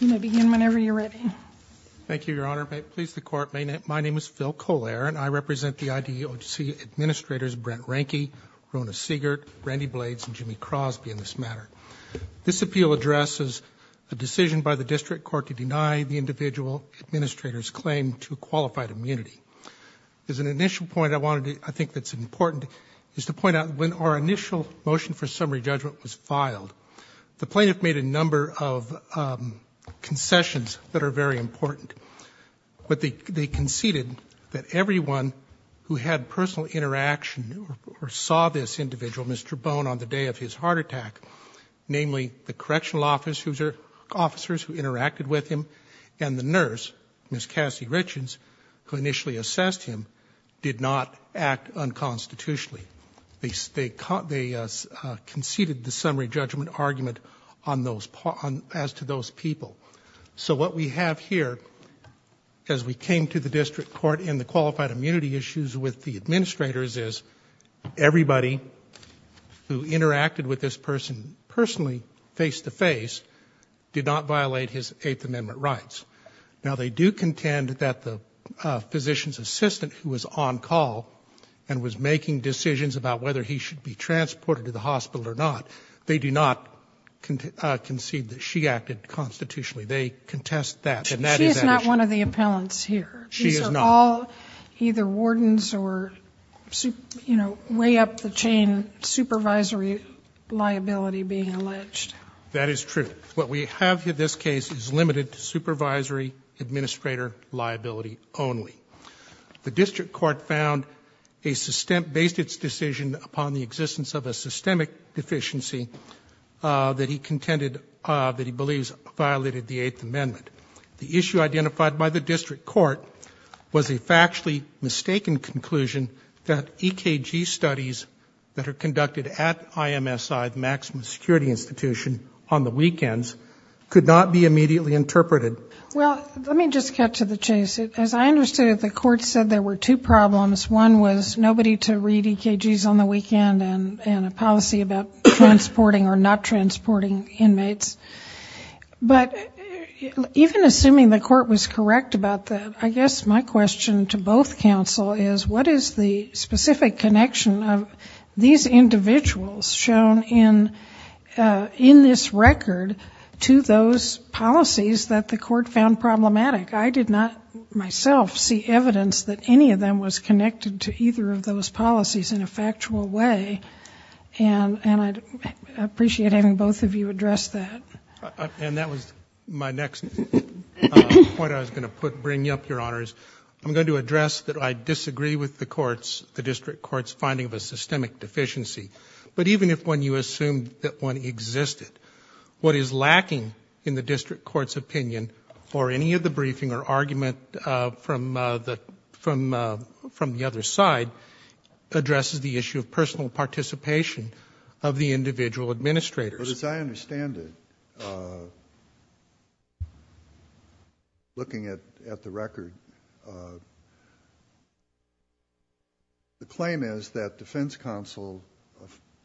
You may begin whenever you're ready. Thank you, Your Honor. May it please the Court, my name is Phil Colare and I represent the IDEOC Administrators Brent Reinke, Rona Siegert, Randy Blades, and Jimmy Crosby in this matter. This appeal addresses a decision by the District Court to deny the individual Administrators claim to qualified immunity. As an initial point, I wanted to, I think that's important, is to point out when our initial motion for summary judgment was filed. The plaintiff made a number of concessions that are very important, but they conceded that everyone who had personal interaction or saw this individual, Mr. Bown, on the day of his heart attack, namely the Correctional Officers who interacted with him and the nurse, Ms. Cassie Richens, who initially assessed him, did not act unconstitutionally. They conceded the summary judgment argument on those, as to those people. So what we have here, as we came to the District Court and the qualified immunity issues with the administrators, is everybody who interacted with this person personally, face-to-face, did not violate his Eighth Amendment rights. Now, they do contend that the District Court, when the plaintiff came to the District Court and was making decisions about whether he should be transported to the hospital or not, they do not concede that she acted constitutionally. They contest that. She is not one of the appellants here. She is not. These are all either wardens or, you know, way up the chain, supervisory liability being alleged. That is true. What we have here, this case, is limited to supervisory administrator liability only. The District Court found a based its decision upon the existence of a systemic deficiency that he contended, that he believes, violated the Eighth Amendment. The issue identified by the District Court was a factually mistaken conclusion that EKG studies that are conducted at IMSI, the Maximum Security Institution, on the weekends could not be immediately interpreted. Well, let me just get to the chase. As I understood it, the court said there were two problems. One was nobody to read EKGs on the weekend and a policy about transporting or not transporting inmates. But, even assuming the court was correct about that, I guess my question to both counsel is what is the specific connection of these individuals shown in in this record to those policies that the court found problematic? I did not myself see evidence that any of them was connected to either of those policies in a factual way. And I'd appreciate having both of you address that. And that was my next point I was going to put, bring up, Your Honors. I'm going to address that I disagree with the courts, the District Court's, finding of a systemic deficiency. But even if when you assume that one existed, what is lacking in the District Court's opinion, or any of the briefing or argument from the other side, addresses the issue of personal participation of the individual administrators. But as I understand it, looking at the record, the claim is that defense counsel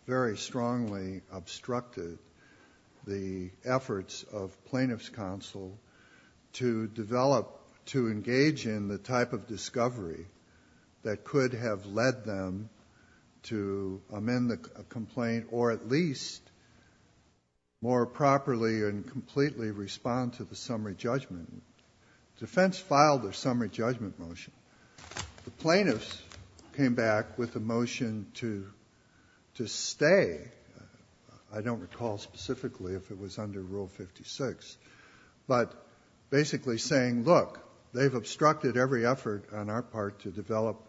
very strongly obstructed the efforts of plaintiff's counsel to develop, to engage in the type of discovery that could have led them to amend the complaint, or at least more properly and completely respond to the summary judgment. Defense filed the summary judgment motion. The plaintiffs came back with a motion to stay, I don't recall specifically if it was under Rule 56, but basically saying, look, they've obstructed every effort on our part to develop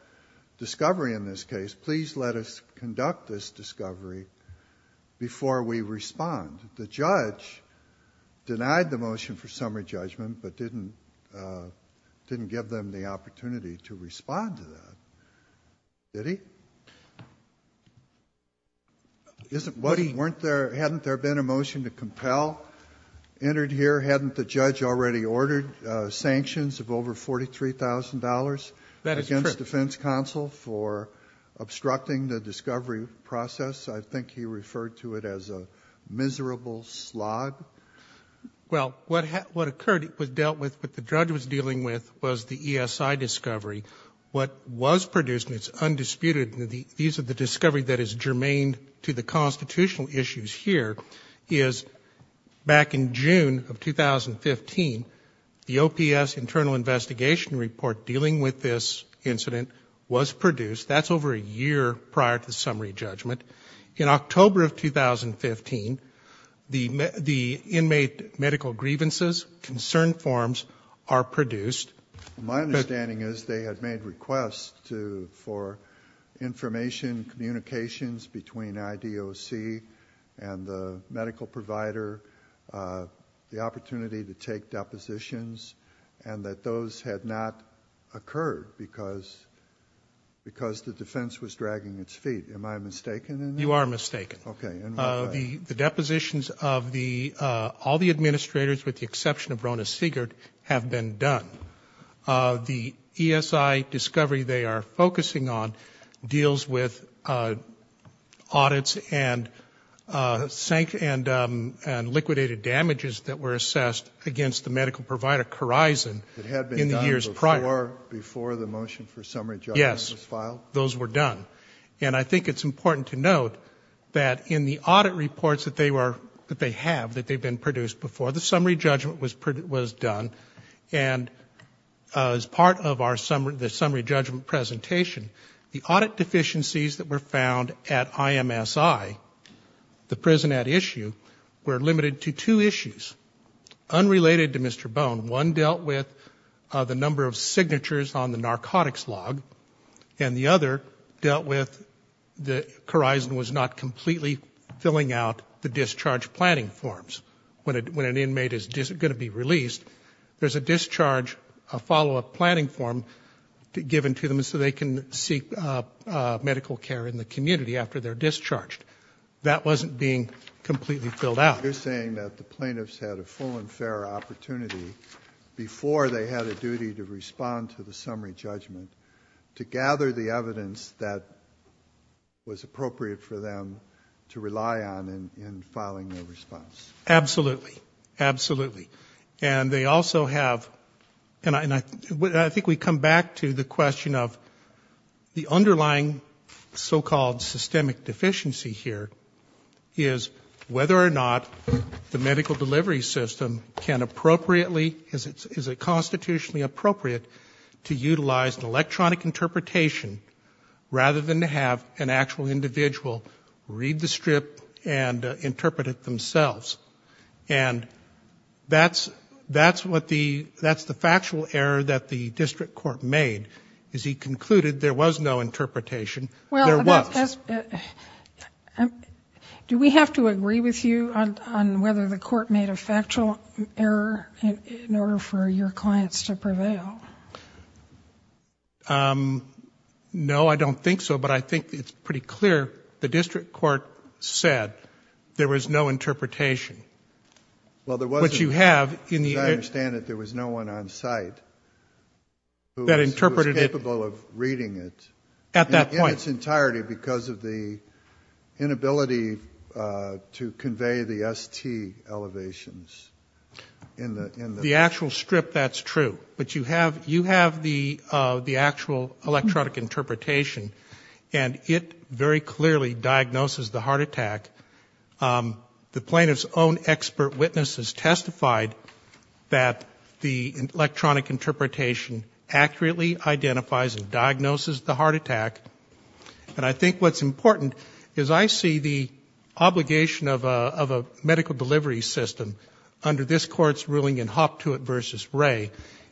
discovery in this case. Please let us conduct this discovery before we respond. The judge denied the motion for summary judgment, but didn't didn't give them the opportunity to respond to that. Did he? Isn't, wasn't, weren't there, hadn't there been a motion to compel? Entered here, hadn't the judge already ordered sanctions of over $43,000 against defense counsel for obstructing the discovery process? I think he referred to it as a miserable slog. Well, what occurred, it was dealt with, what the judge was dealing with, was the ESI discovery. What was produced, and it's undisputed, these are the discovery that is germane to the constitutional issues here, is back in June of 2015, the OPS internal investigation report dealing with this incident was produced. That's over a year prior to the summary judgment. In October of 2015, the, the inmate medical grievances, concern forms, are produced. My understanding is they had made requests to, for information, communications between IDOC and the medical provider, the opportunity to take depositions, and that those had not occurred because, because the defense was dragging its feet. Am I mistaken in that? You are mistaken. Okay. The, the depositions of the, all the administrators, with the exception of Rona Sigert, have been done. The ESI discovery they are focusing on deals with audits and sank, and, and liquidated damages that were assessed against the medical provider, Corizon, in the years prior. Before the motion for summary judgment was filed? Yes, those were done. And I think it's important to note that in the audit reports that they were, that they have, that they've been produced before, the summary judgment was produced, was done, and as part of our summary, the summary judgment presentation, the audit deficiencies that were found at IMSI, the prison at issue, were limited to two issues. Unrelated to Mr. Bone, one dealt with the number of signatures on the narcotics log, and the other dealt with the, Corizon was not completely filling out the discharge planning forms. When it, when an inmate is just going to be released, there's a discharge, a follow-up planning form, given to them so they can seek medical care in the community after they're discharged. That wasn't being completely filled out. You're saying that the plaintiffs had a full and fair opportunity before they had a duty to respond to the summary judgment, to gather the evidence that was appropriate for them to rely on in filing their response? Absolutely. Absolutely. And they also have, and I, and I, I think we come back to the question of the underlying so-called systemic deficiency here, is whether or not the medical delivery system can appropriately, is it, is it constitutionally appropriate to utilize an electronic interpretation rather than to have an actual individual read the strip and and that's, that's what the, that's the factual error that the district court made, is he concluded there was no interpretation. Well, there was. Do we have to agree with you on whether the court made a factual error in order for your clients to prevail? No, I don't think so, but I think it's pretty clear the district court said there was no interpretation. Well, there wasn't. What you have in the. As I understand it, there was no one on site that interpreted it. Who was capable of reading it. At that point. In its entirety because of the inability to convey the ST elevations in the, in the. The actual strip, that's true, but you have, you have the, the actual electronic interpretation and it very clearly diagnoses the heart attack. The plaintiff's own expert witnesses testified that the electronic interpretation accurately identifies and diagnoses the heart attack. And I think what's important is I see the obligation of a medical delivery system under this court's ruling in Hoptuit versus Ray,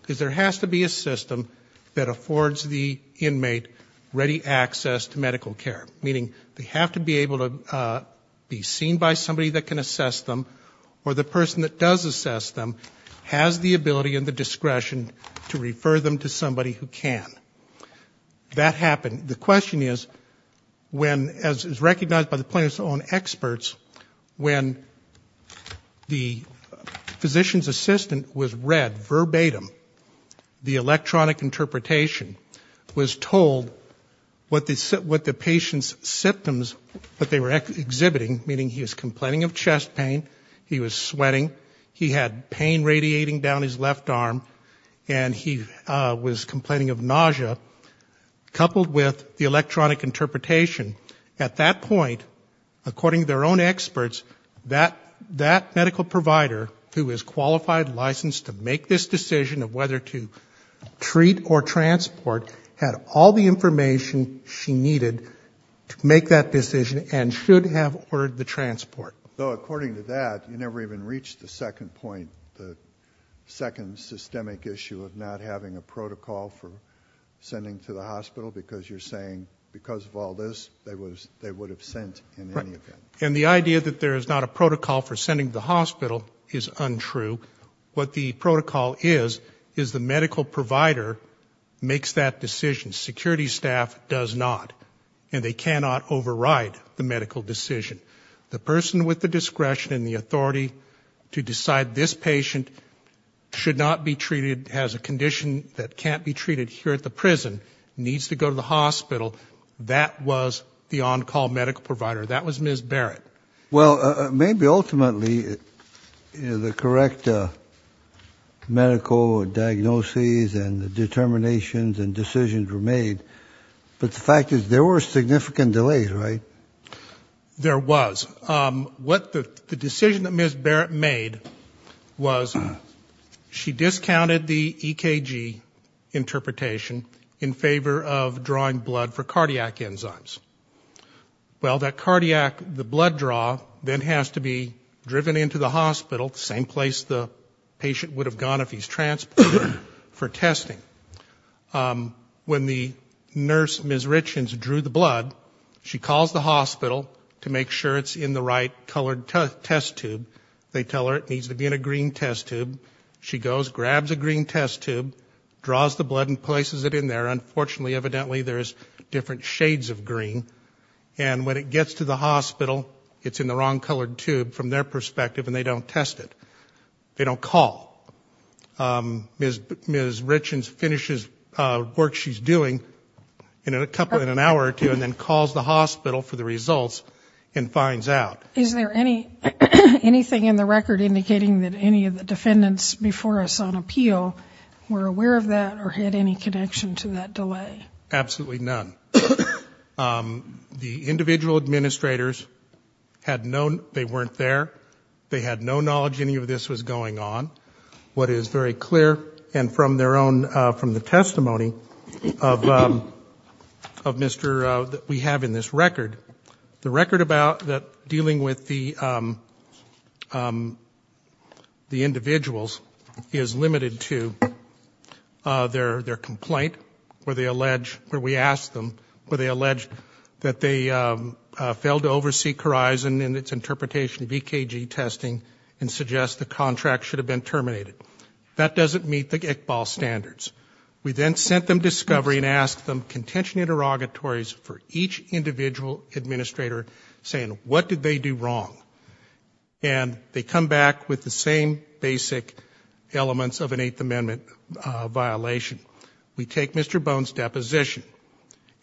is there has to be a system that affords the inmate ready access to medical care. Meaning, they have to be able to be seen by somebody that can assess them or the person that does assess them has the ability and the discretion to refer them to somebody who can. That happened. The question is, when, as is recognized by the plaintiff's own experts, when the physician's assistant was read verbatim the electronic interpretation was told what the patient's symptoms, what they were exhibiting, meaning he was complaining of chest pain, he was sweating, he had pain radiating down his left arm, and he was complaining of nausea, coupled with the electronic interpretation. At that point, according to their own experts, that, that medical provider who is qualified, licensed to make this decision of whether to provide the information she needed to make that decision and should have ordered the transport. So according to that, you never even reached the second point, the second systemic issue of not having a protocol for sending to the hospital, because you're saying because of all this, they was, they would have sent in any event. And the idea that there is not a protocol for sending the hospital is untrue. What the protocol is, is the medical provider makes that decision. Security staff does not, and they cannot override the medical decision. The person with the discretion and the authority to decide this patient should not be treated, has a condition that can't be treated here at the prison, needs to go to the hospital, that was the on-call medical provider. That was Ms. Barrett. Well, maybe ultimately, you know, the correct medical diagnoses and the determinations and decisions were made, but the fact is there were significant delays, right? There was. What the, the decision that Ms. Barrett made was she discounted the EKG interpretation in favor of drawing blood for cardiac enzymes. Well, that cardiac, the blood draw, then has to be driven into the hospital, the same place the patient would have gone if he's transported for testing. When the nurse, Ms. Richens, drew the blood, she calls the hospital to make sure it's in the right colored test tube. They tell her it needs to be in a green test tube. She goes, grabs a green test tube, draws the blood and places it in there. Unfortunately, evidently, there's different shades of green. And when it gets to the hospital, it's in the wrong colored tube from their perspective, and they don't test it. They don't call. Ms. Richens finishes work she's doing in a couple, in an hour or two, and then calls the hospital for the results and finds out. Is there any anything in the record indicating that any of the defendants before us on appeal were aware of that or had any connection to that delay? Absolutely none. The individual administrators had no, they weren't there. They had no knowledge any of this was going on. What is very clear, and from their own, from the testimony of Mr., that we have in this record, the record about that dealing with the the individuals is limited to their their complaint, where they allege, where we asked them, where they allege that they failed to oversee Corizon in its interpretation of EKG testing and suggest the contract should have been terminated. That doesn't meet the Iqbal standards. We then sent them discovery and asked them contention interrogatories for each individual administrator saying, what did they do wrong? And they come back with the same basic elements of an Eighth Amendment violation. We take Mr. Bone's deposition,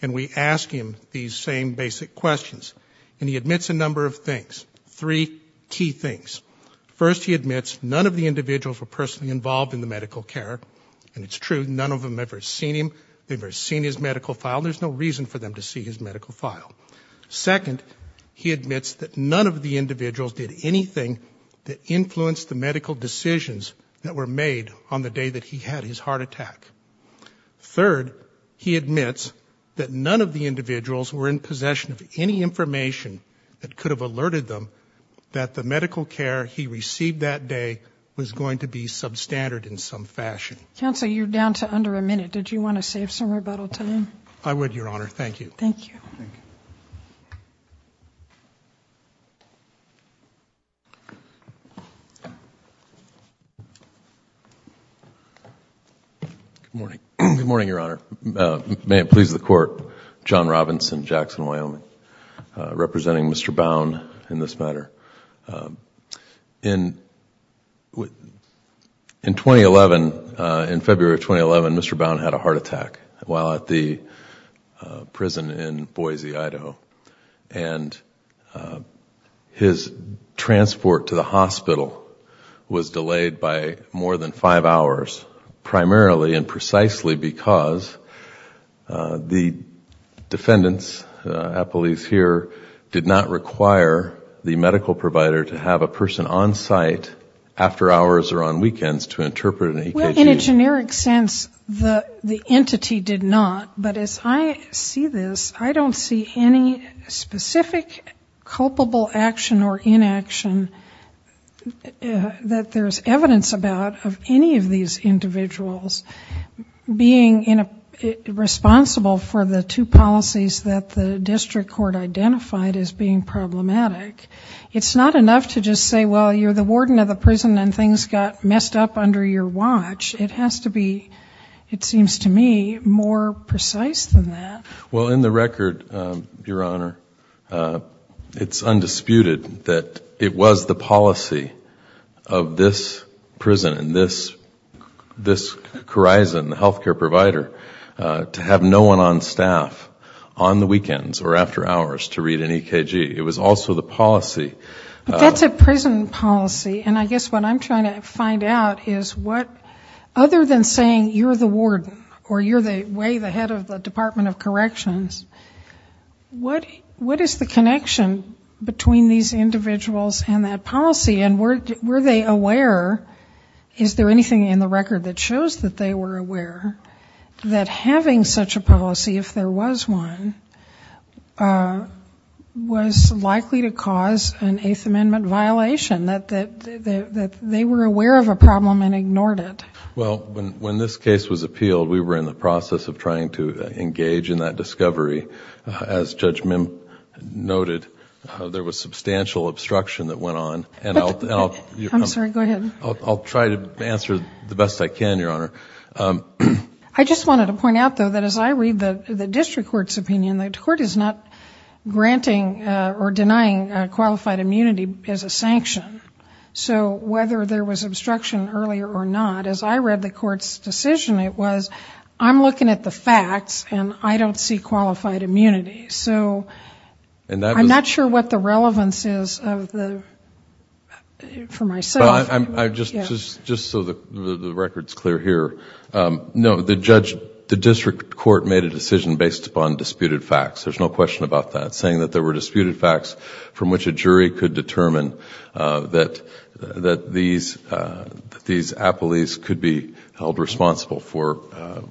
and we ask him these same basic questions. And he admits a number of things, three key things. First, he admits none of the individuals were personally involved in the medical care, and it's true, none of them ever seen him. They've never seen his medical file. There's no reason for them to see his medical file. Second, he admits that none of the individuals did anything that influenced the medical decisions that were made on the day that he had his heart attack. Third, he admits that none of the individuals were in possession of any information that could have alerted them that the medical care he received that day was going to be substandard in some fashion. Counsel, you're down to under a minute. Did you want to save some rebuttal time? I would, Your Honor. Thank you. Thank you. Good morning. Good morning, Your Honor. May it please the Court. John Robinson, Jackson, Wyoming, representing Mr. Bowne in this matter. In February of 2011, Mr. Bowne had a heart attack while at the prison in Boise, Idaho. And his transport to the hospital was delayed by more than five hours, primarily and precisely because the defendants, appellees here, did not require the medical provider to have a person on site after hours or on weekends to interpret an EKG. In a generic sense, the entity did not. But as I see this, I don't see any specific culpable action or inaction that there's evidence about of any of these individuals being responsible for the two policies that the district court identified as being problematic. It's not enough to just say, well, you're the warden of the prison and things got messed up under your watch. It has to be, it seems to me, more precise than that. Well, in the record, Your Honor, it's undisputed that it was the policy of this prison and this horizon, the healthcare provider, to have no one on staff on the weekends or after hours to read an EKG. It was also the policy. But that's a prison policy. And I guess what I'm trying to find out is what, other than saying you're the warden or you're the, way the head of the Department of Corrections, what is the connection between these individuals and that policy? And were they aware, is there anything in the record that shows that they were aware that having such a policy, if there was one, was likely to cause an Eighth Amendment violation, that they were aware of a problem and ignored it? Well, when this case was appealed, we were in the process of trying to engage in that discovery. As Judge Mim noted, there was substantial obstruction that went on. I'm sorry, go ahead. I'll try to answer the best I can, Your Honor. I just wanted to point out, though, that as I read the district court's opinion, the court is not granting or denying qualified immunity as a sanction. So whether there was obstruction earlier or not, as I read the court's decision, it was, I'm looking at the facts and I don't see qualified immunity. So I'm not sure what the relevance is for myself. Just so the record's clear here, no, the district court made a decision based upon disputed facts. There's no question about that. I'm just saying that there were disputed facts from which a jury could determine that these appellees could be held responsible for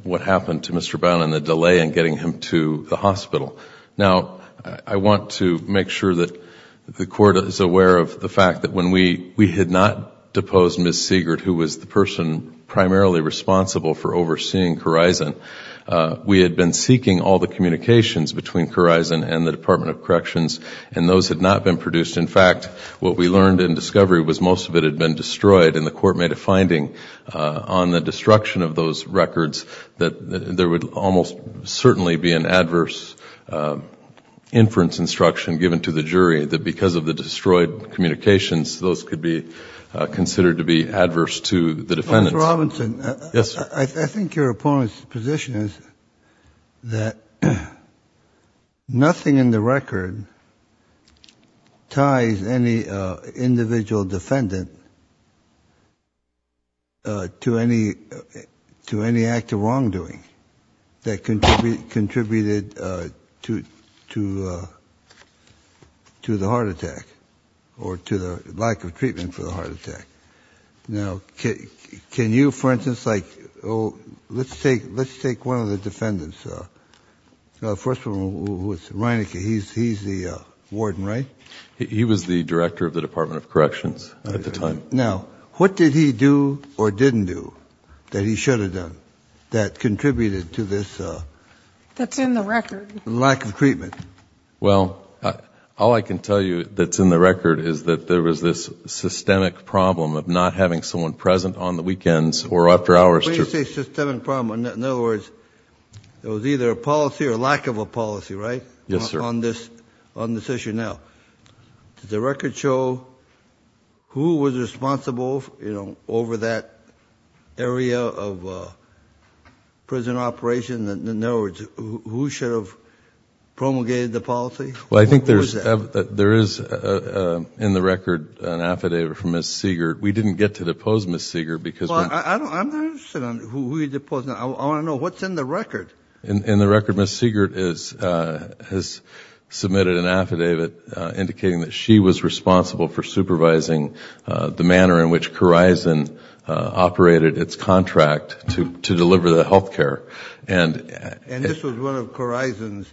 what happened to Mr. Bowne and the delay in getting him to the hospital. Now, I want to make sure that the court is aware of the fact that when we had not deposed Ms. Siegert, who was the person primarily responsible for overseeing Corizon, we had been seeking all the communications between Corizon and the Department of Corrections and those had not been produced. In fact, what we learned in discovery was most of it had been destroyed and the court made a finding on the destruction of those records that there would almost certainly be an adverse inference instruction given to the jury that because of the destroyed communications, those could be considered to be adverse to the defendants. Mr. Robinson, I think your opponent's position is that nothing in the record ties any individual defendant to any act of wrongdoing that contributed to the heart attack or to the lack of treatment for the heart attack. Now, can you, for instance, like, oh, let's take one of the defendants, the first one was Reinicke, he's the warden, right? He was the director of the Department of Corrections at the time. Now, what did he do or didn't do that he should have done that contributed to this lack of treatment? That's in the record. There was either a policy or a lack of a policy, right, on this issue. Now, does the record show who was responsible over that area of prison operation? In other words, who should have promulgated the policy? Well, I think there is in the record an affidavit from Ms. Siegert. We didn't get to depose Ms. Siegert. I'm not interested in who he deposed. I want to know what's in the record. In the record, Ms. Siegert has submitted an affidavit indicating that she was responsible for supervising the manner in which Corizon operated its contract to deliver the health care. And this was one of Corizon's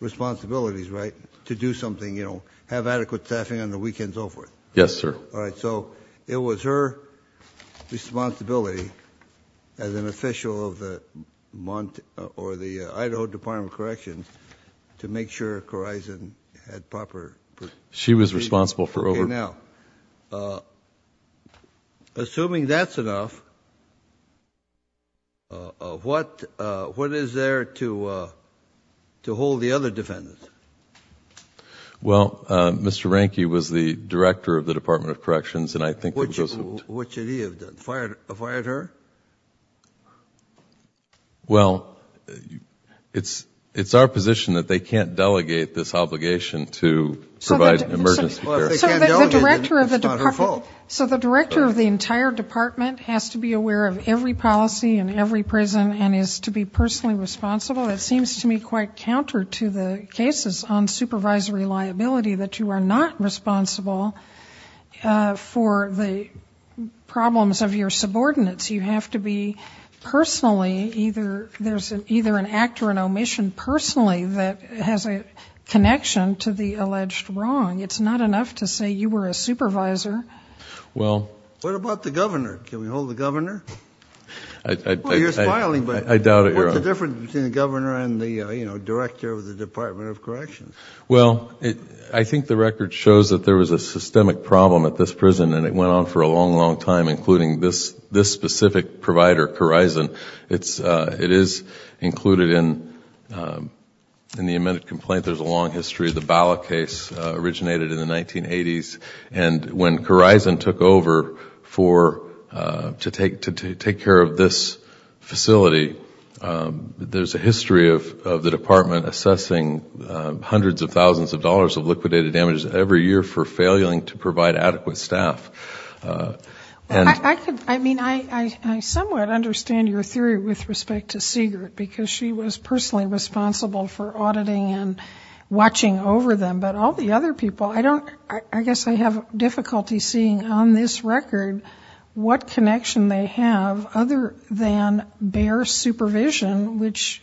responsibilities, right? To do something, you know, have adequate staffing on the weekends, and so forth. Yes, sir. All right, so it was her responsibility as an official of the Idaho Department of Corrections to make sure Corizon had proper... She was responsible for over... Now, assuming that's enough, what is there to hold the other defendants? Well, Mr. Ranke was the director of the Department of Corrections, and I think... What should he have done? Fired her? Well, it's our position that they can't delegate this obligation to provide emergency care. Well, if they can't delegate it, then it's not her fault. So the director of the entire department has to be aware of every policy in every prison and is to be personally responsible? That seems to me quite counter to the cases on supervisory liability, that you are not responsible for the problems of your subordinates. You have to be personally either... There's either an act or an omission personally that has a connection to the alleged wrong. It's not enough to say you were a supervisor. Well... What about the governor? Can we hold the governor? You're smiling, but... I doubt it, Your Honor. What's the difference between the governor and the director of the Department of Corrections? Well, I think the record shows that there was a systemic problem at this prison, and it went on for a long, long time, including this specific provider, Corizon. It is included in the amended complaint. There's a long history. The Bala case originated in the 1980s. And when Corizon took over to take care of this facility, there's a history of the department assessing hundreds of thousands of dollars of liquidated damage every year for failing to provide adequate staff. I could... I mean, I somewhat understand your theory with respect to Siegert, because she was personally responsible for auditing and watching over them. But all the other people, I don't... I guess I have difficulty seeing on this record what connection they have other than bare supervision, which,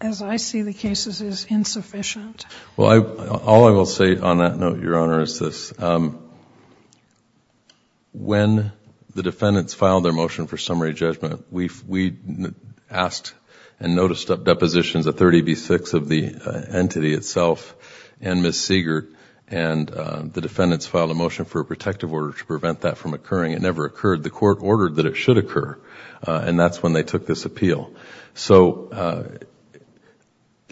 as I see the cases, is insufficient. Well, all I will say on that note, Your Honor, is this. When the defendants filed their motion for summary judgment, we asked and noticed depositions of 30B6 of the entity itself and Ms. Siegert, and the defendants filed a motion for a protective order to prevent that from occurring. It never occurred. The court ordered that it should occur, and that's when they took this appeal. So...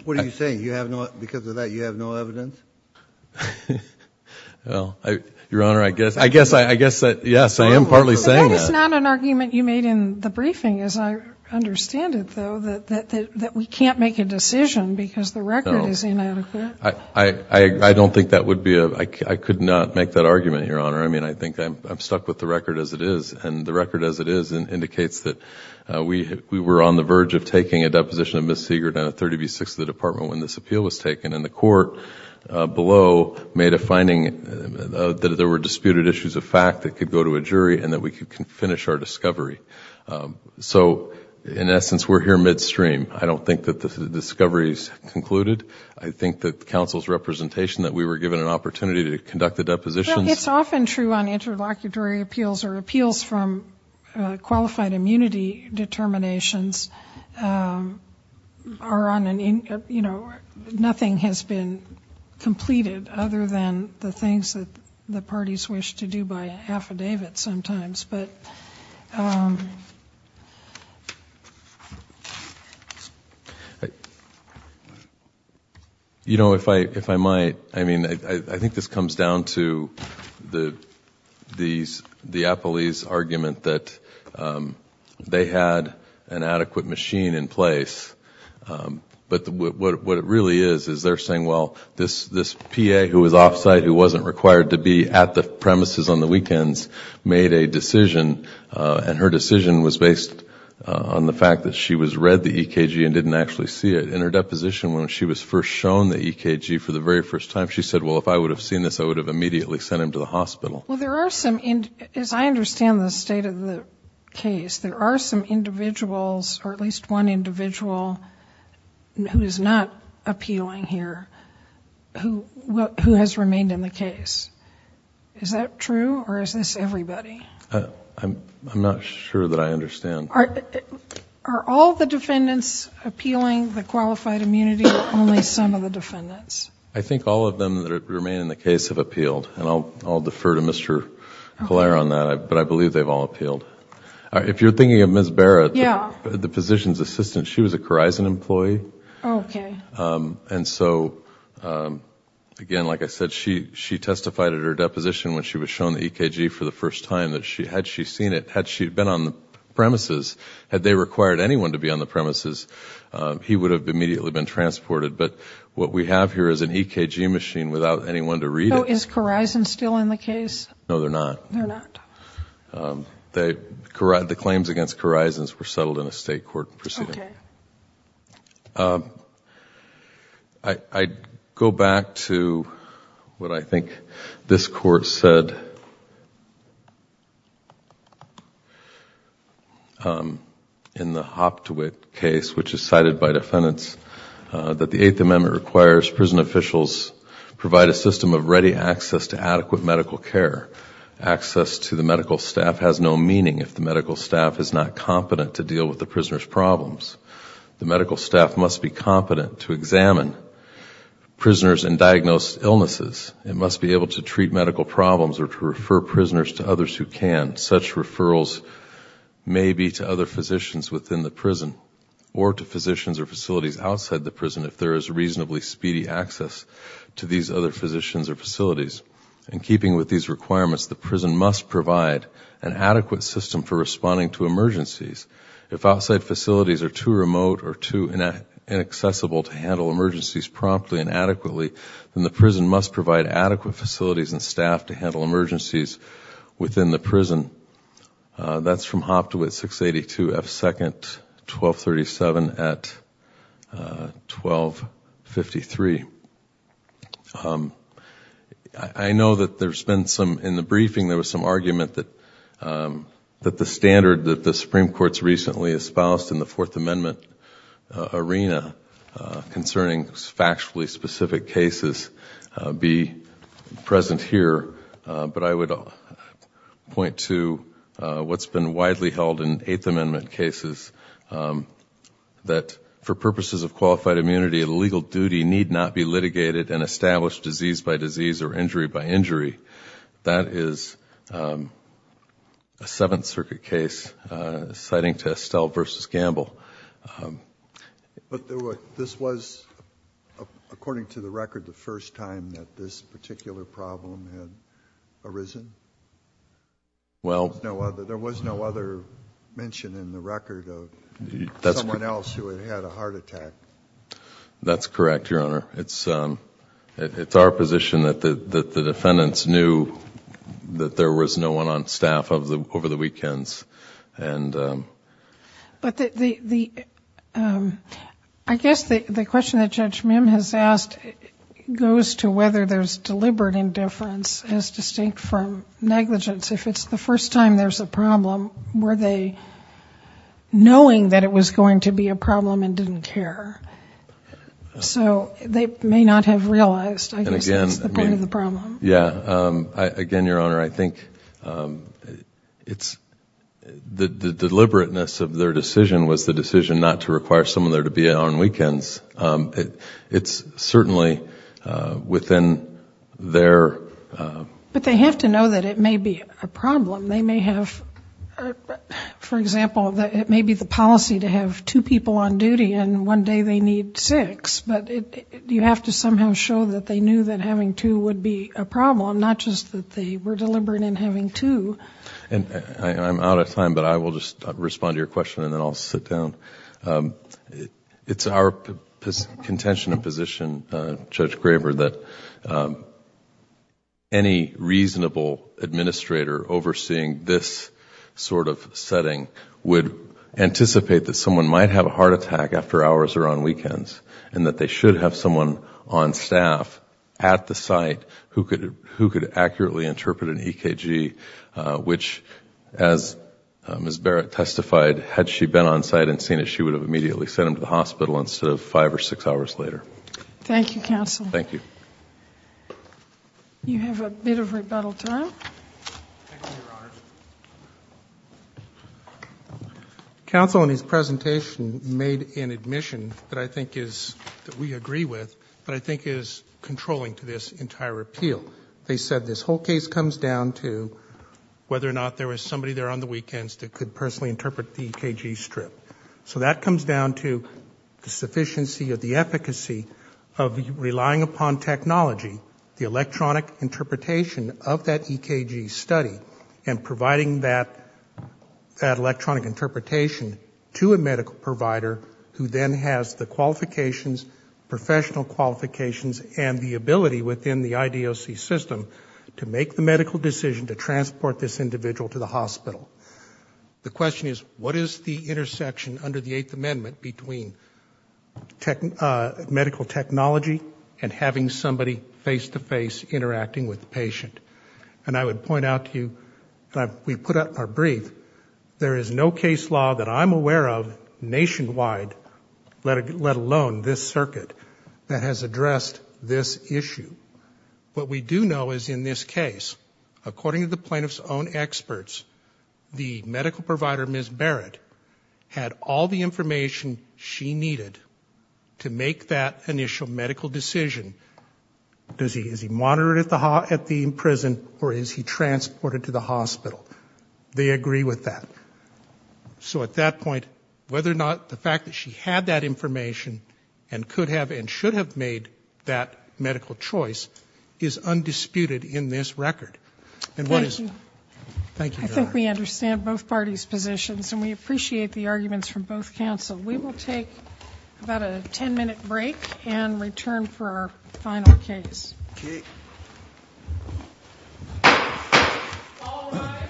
What are you saying? You have no... Because of that, you have no evidence? Well, Your Honor, I guess... I guess that, yes, I am partly saying that. But that is not an argument you made in the briefing, as I understand it, though, that we can't make a decision because the record is inadequate. I don't think that would be a... I could not make that argument, Your Honor. I mean, I think I'm stuck with the record as it is, and the record as it is indicates that we were on the verge of taking a deposition of Ms. Siegert on a 30B6 of the department when this appeal was taken, and the court below made a finding that there were disputed issues of fact that could go to a jury and that we could finish our discovery. So, in essence, we're here midstream. I don't think that the discovery is concluded. I think that counsel's representation, that we were given an opportunity to conduct the depositions... Nothing has been completed other than the things that the parties wish to do by affidavit sometimes. You know, if I might... I think this comes down to the appellee's argument that they had an adequate machine in place, but what it really is is they're saying, well, this PA who was off-site, who wasn't required to be at the premises on the weekends, made a decision, and her decision was based on the fact that she had read the EKG and didn't actually see it. In her deposition, when she was first shown the EKG for the very first time, she said, well, if I would have seen this, I would have immediately sent him to the hospital. Well, there are some... as I understand the state of the case, there are some individuals or at least one individual who is not appealing here who has remained in the case. Is that true or is this everybody? I'm not sure that I understand. Are all the defendants appealing the qualified immunity or only some of the defendants? I think all of them that remain in the case have appealed, and I'll defer to Mr. Collare on that, but I believe they've all appealed. If you're thinking of Ms. Barra, the physician's assistant, she was a Corizon employee. Okay. And so, again, like I said, she testified at her deposition when she was shown the EKG for the first time that had she seen it, had she been on the premises, had they required anyone to be on the premises, he would have immediately been transported. But what we have here is an EKG machine without anyone to read it. So is Corizon still in the case? No, they're not. They're not. Okay. I go back to what I think this Court said in the Hoptewitt case, which is cited by defendants, that the Eighth Amendment requires prison officials provide a system of ready access to adequate medical care. Access to the medical staff has no meaning if the medical staff is not competent to deal with the prisoner's problems. The medical staff must be competent to examine prisoners and diagnose illnesses. It must be able to treat medical problems or to refer prisoners to others who can. Such referrals may be to other physicians within the prison or to physicians or facilities outside the prison if there is reasonably speedy access to these other physicians or facilities. In keeping with these requirements, the prison must provide an adequate system for responding to emergencies. If outside facilities are too remote or too inaccessible to handle emergencies promptly and adequately, then the prison must provide adequate facilities and staff to handle emergencies within the prison. That's from Hoptewitt 682 F. 2nd, 1237 at 1253. I know that in the briefing there was some argument that the standard that the Supreme Court has recently espoused in the Fourth Amendment arena concerning factually specific cases be present here, but I would point to what's been widely held in Eighth Amendment cases, that for purposes of qualified immunity, a legal duty need not be litigated and established disease by disease or injury by injury. That is a Seventh Circuit case citing to Estelle v. Gamble. But this was, according to the record, the first time that this particular problem had arisen? There was no other mention in the record of someone else who had had a heart attack? That's correct, Your Honor. It's our position that the defendants knew that there was no one on staff over the weekends. I guess the question that Judge Mim has asked goes to whether there's deliberate indifference as distinct from negligence. If it's the first time there's a problem, were they knowing that it was going to be a problem and didn't care? So they may not have realized, I guess, that's the point of the problem. Again, Your Honor, I think the deliberateness of their decision was the decision not to require someone there to be on weekends. It's certainly within their... But they have to know that it may be a problem. They may have, for example, it may be the policy to have two people on duty and one day they need six. But you have to somehow show that they knew that having two would be a problem, not just that they were deliberate in having two. I'm out of time, but I will just respond to your question and then I'll sit down. It's our contention and position, Judge Graber, that any reasonable administrator overseeing this sort of setting would anticipate that someone might have a heart attack after hours or on weekends and that they should have someone on staff at the site who could accurately interpret an EKG, which, as Ms. Barrett testified, had she been on site and seen it, she would have immediately sent him to the hospital instead of five or six hours later. Thank you, counsel. You have a bit of rebuttal time. Thank you, Your Honors. Counsel, in his presentation, made an admission that I think is, that we agree with, that I think is controlling to this entire appeal. They said this whole case comes down to whether or not there was somebody there on the weekends that could personally interpret the EKG strip. So that comes down to the sufficiency or the efficacy of relying upon technology, the electronic interpretation of that EKG study, and providing that electronic interpretation to a medical provider who then has the qualifications, professional qualifications, and the ability within the IDOC system to make the medical decision to transport this individual to the hospital. The question is, what is the intersection under the Eighth Amendment between medical technology and having somebody face a heart attack? And I would point out to you, we put up our brief. There is no case law that I'm aware of nationwide, let alone this circuit, that has addressed this issue. What we do know is in this case, according to the plaintiff's own experts, the medical provider, Ms. Barrett, had all the information she needed to make that initial medical decision to transport this individual to the hospital. Is he monitored at the prison, or is he transported to the hospital? They agree with that. So at that point, whether or not the fact that she had that information and could have and should have made that medical choice is undisputed in this record. And what is... Thank you. I think we understand both parties' positions, and we appreciate the arguments from both counsel. We will take about a 10-minute break and return for our final case. Thank you.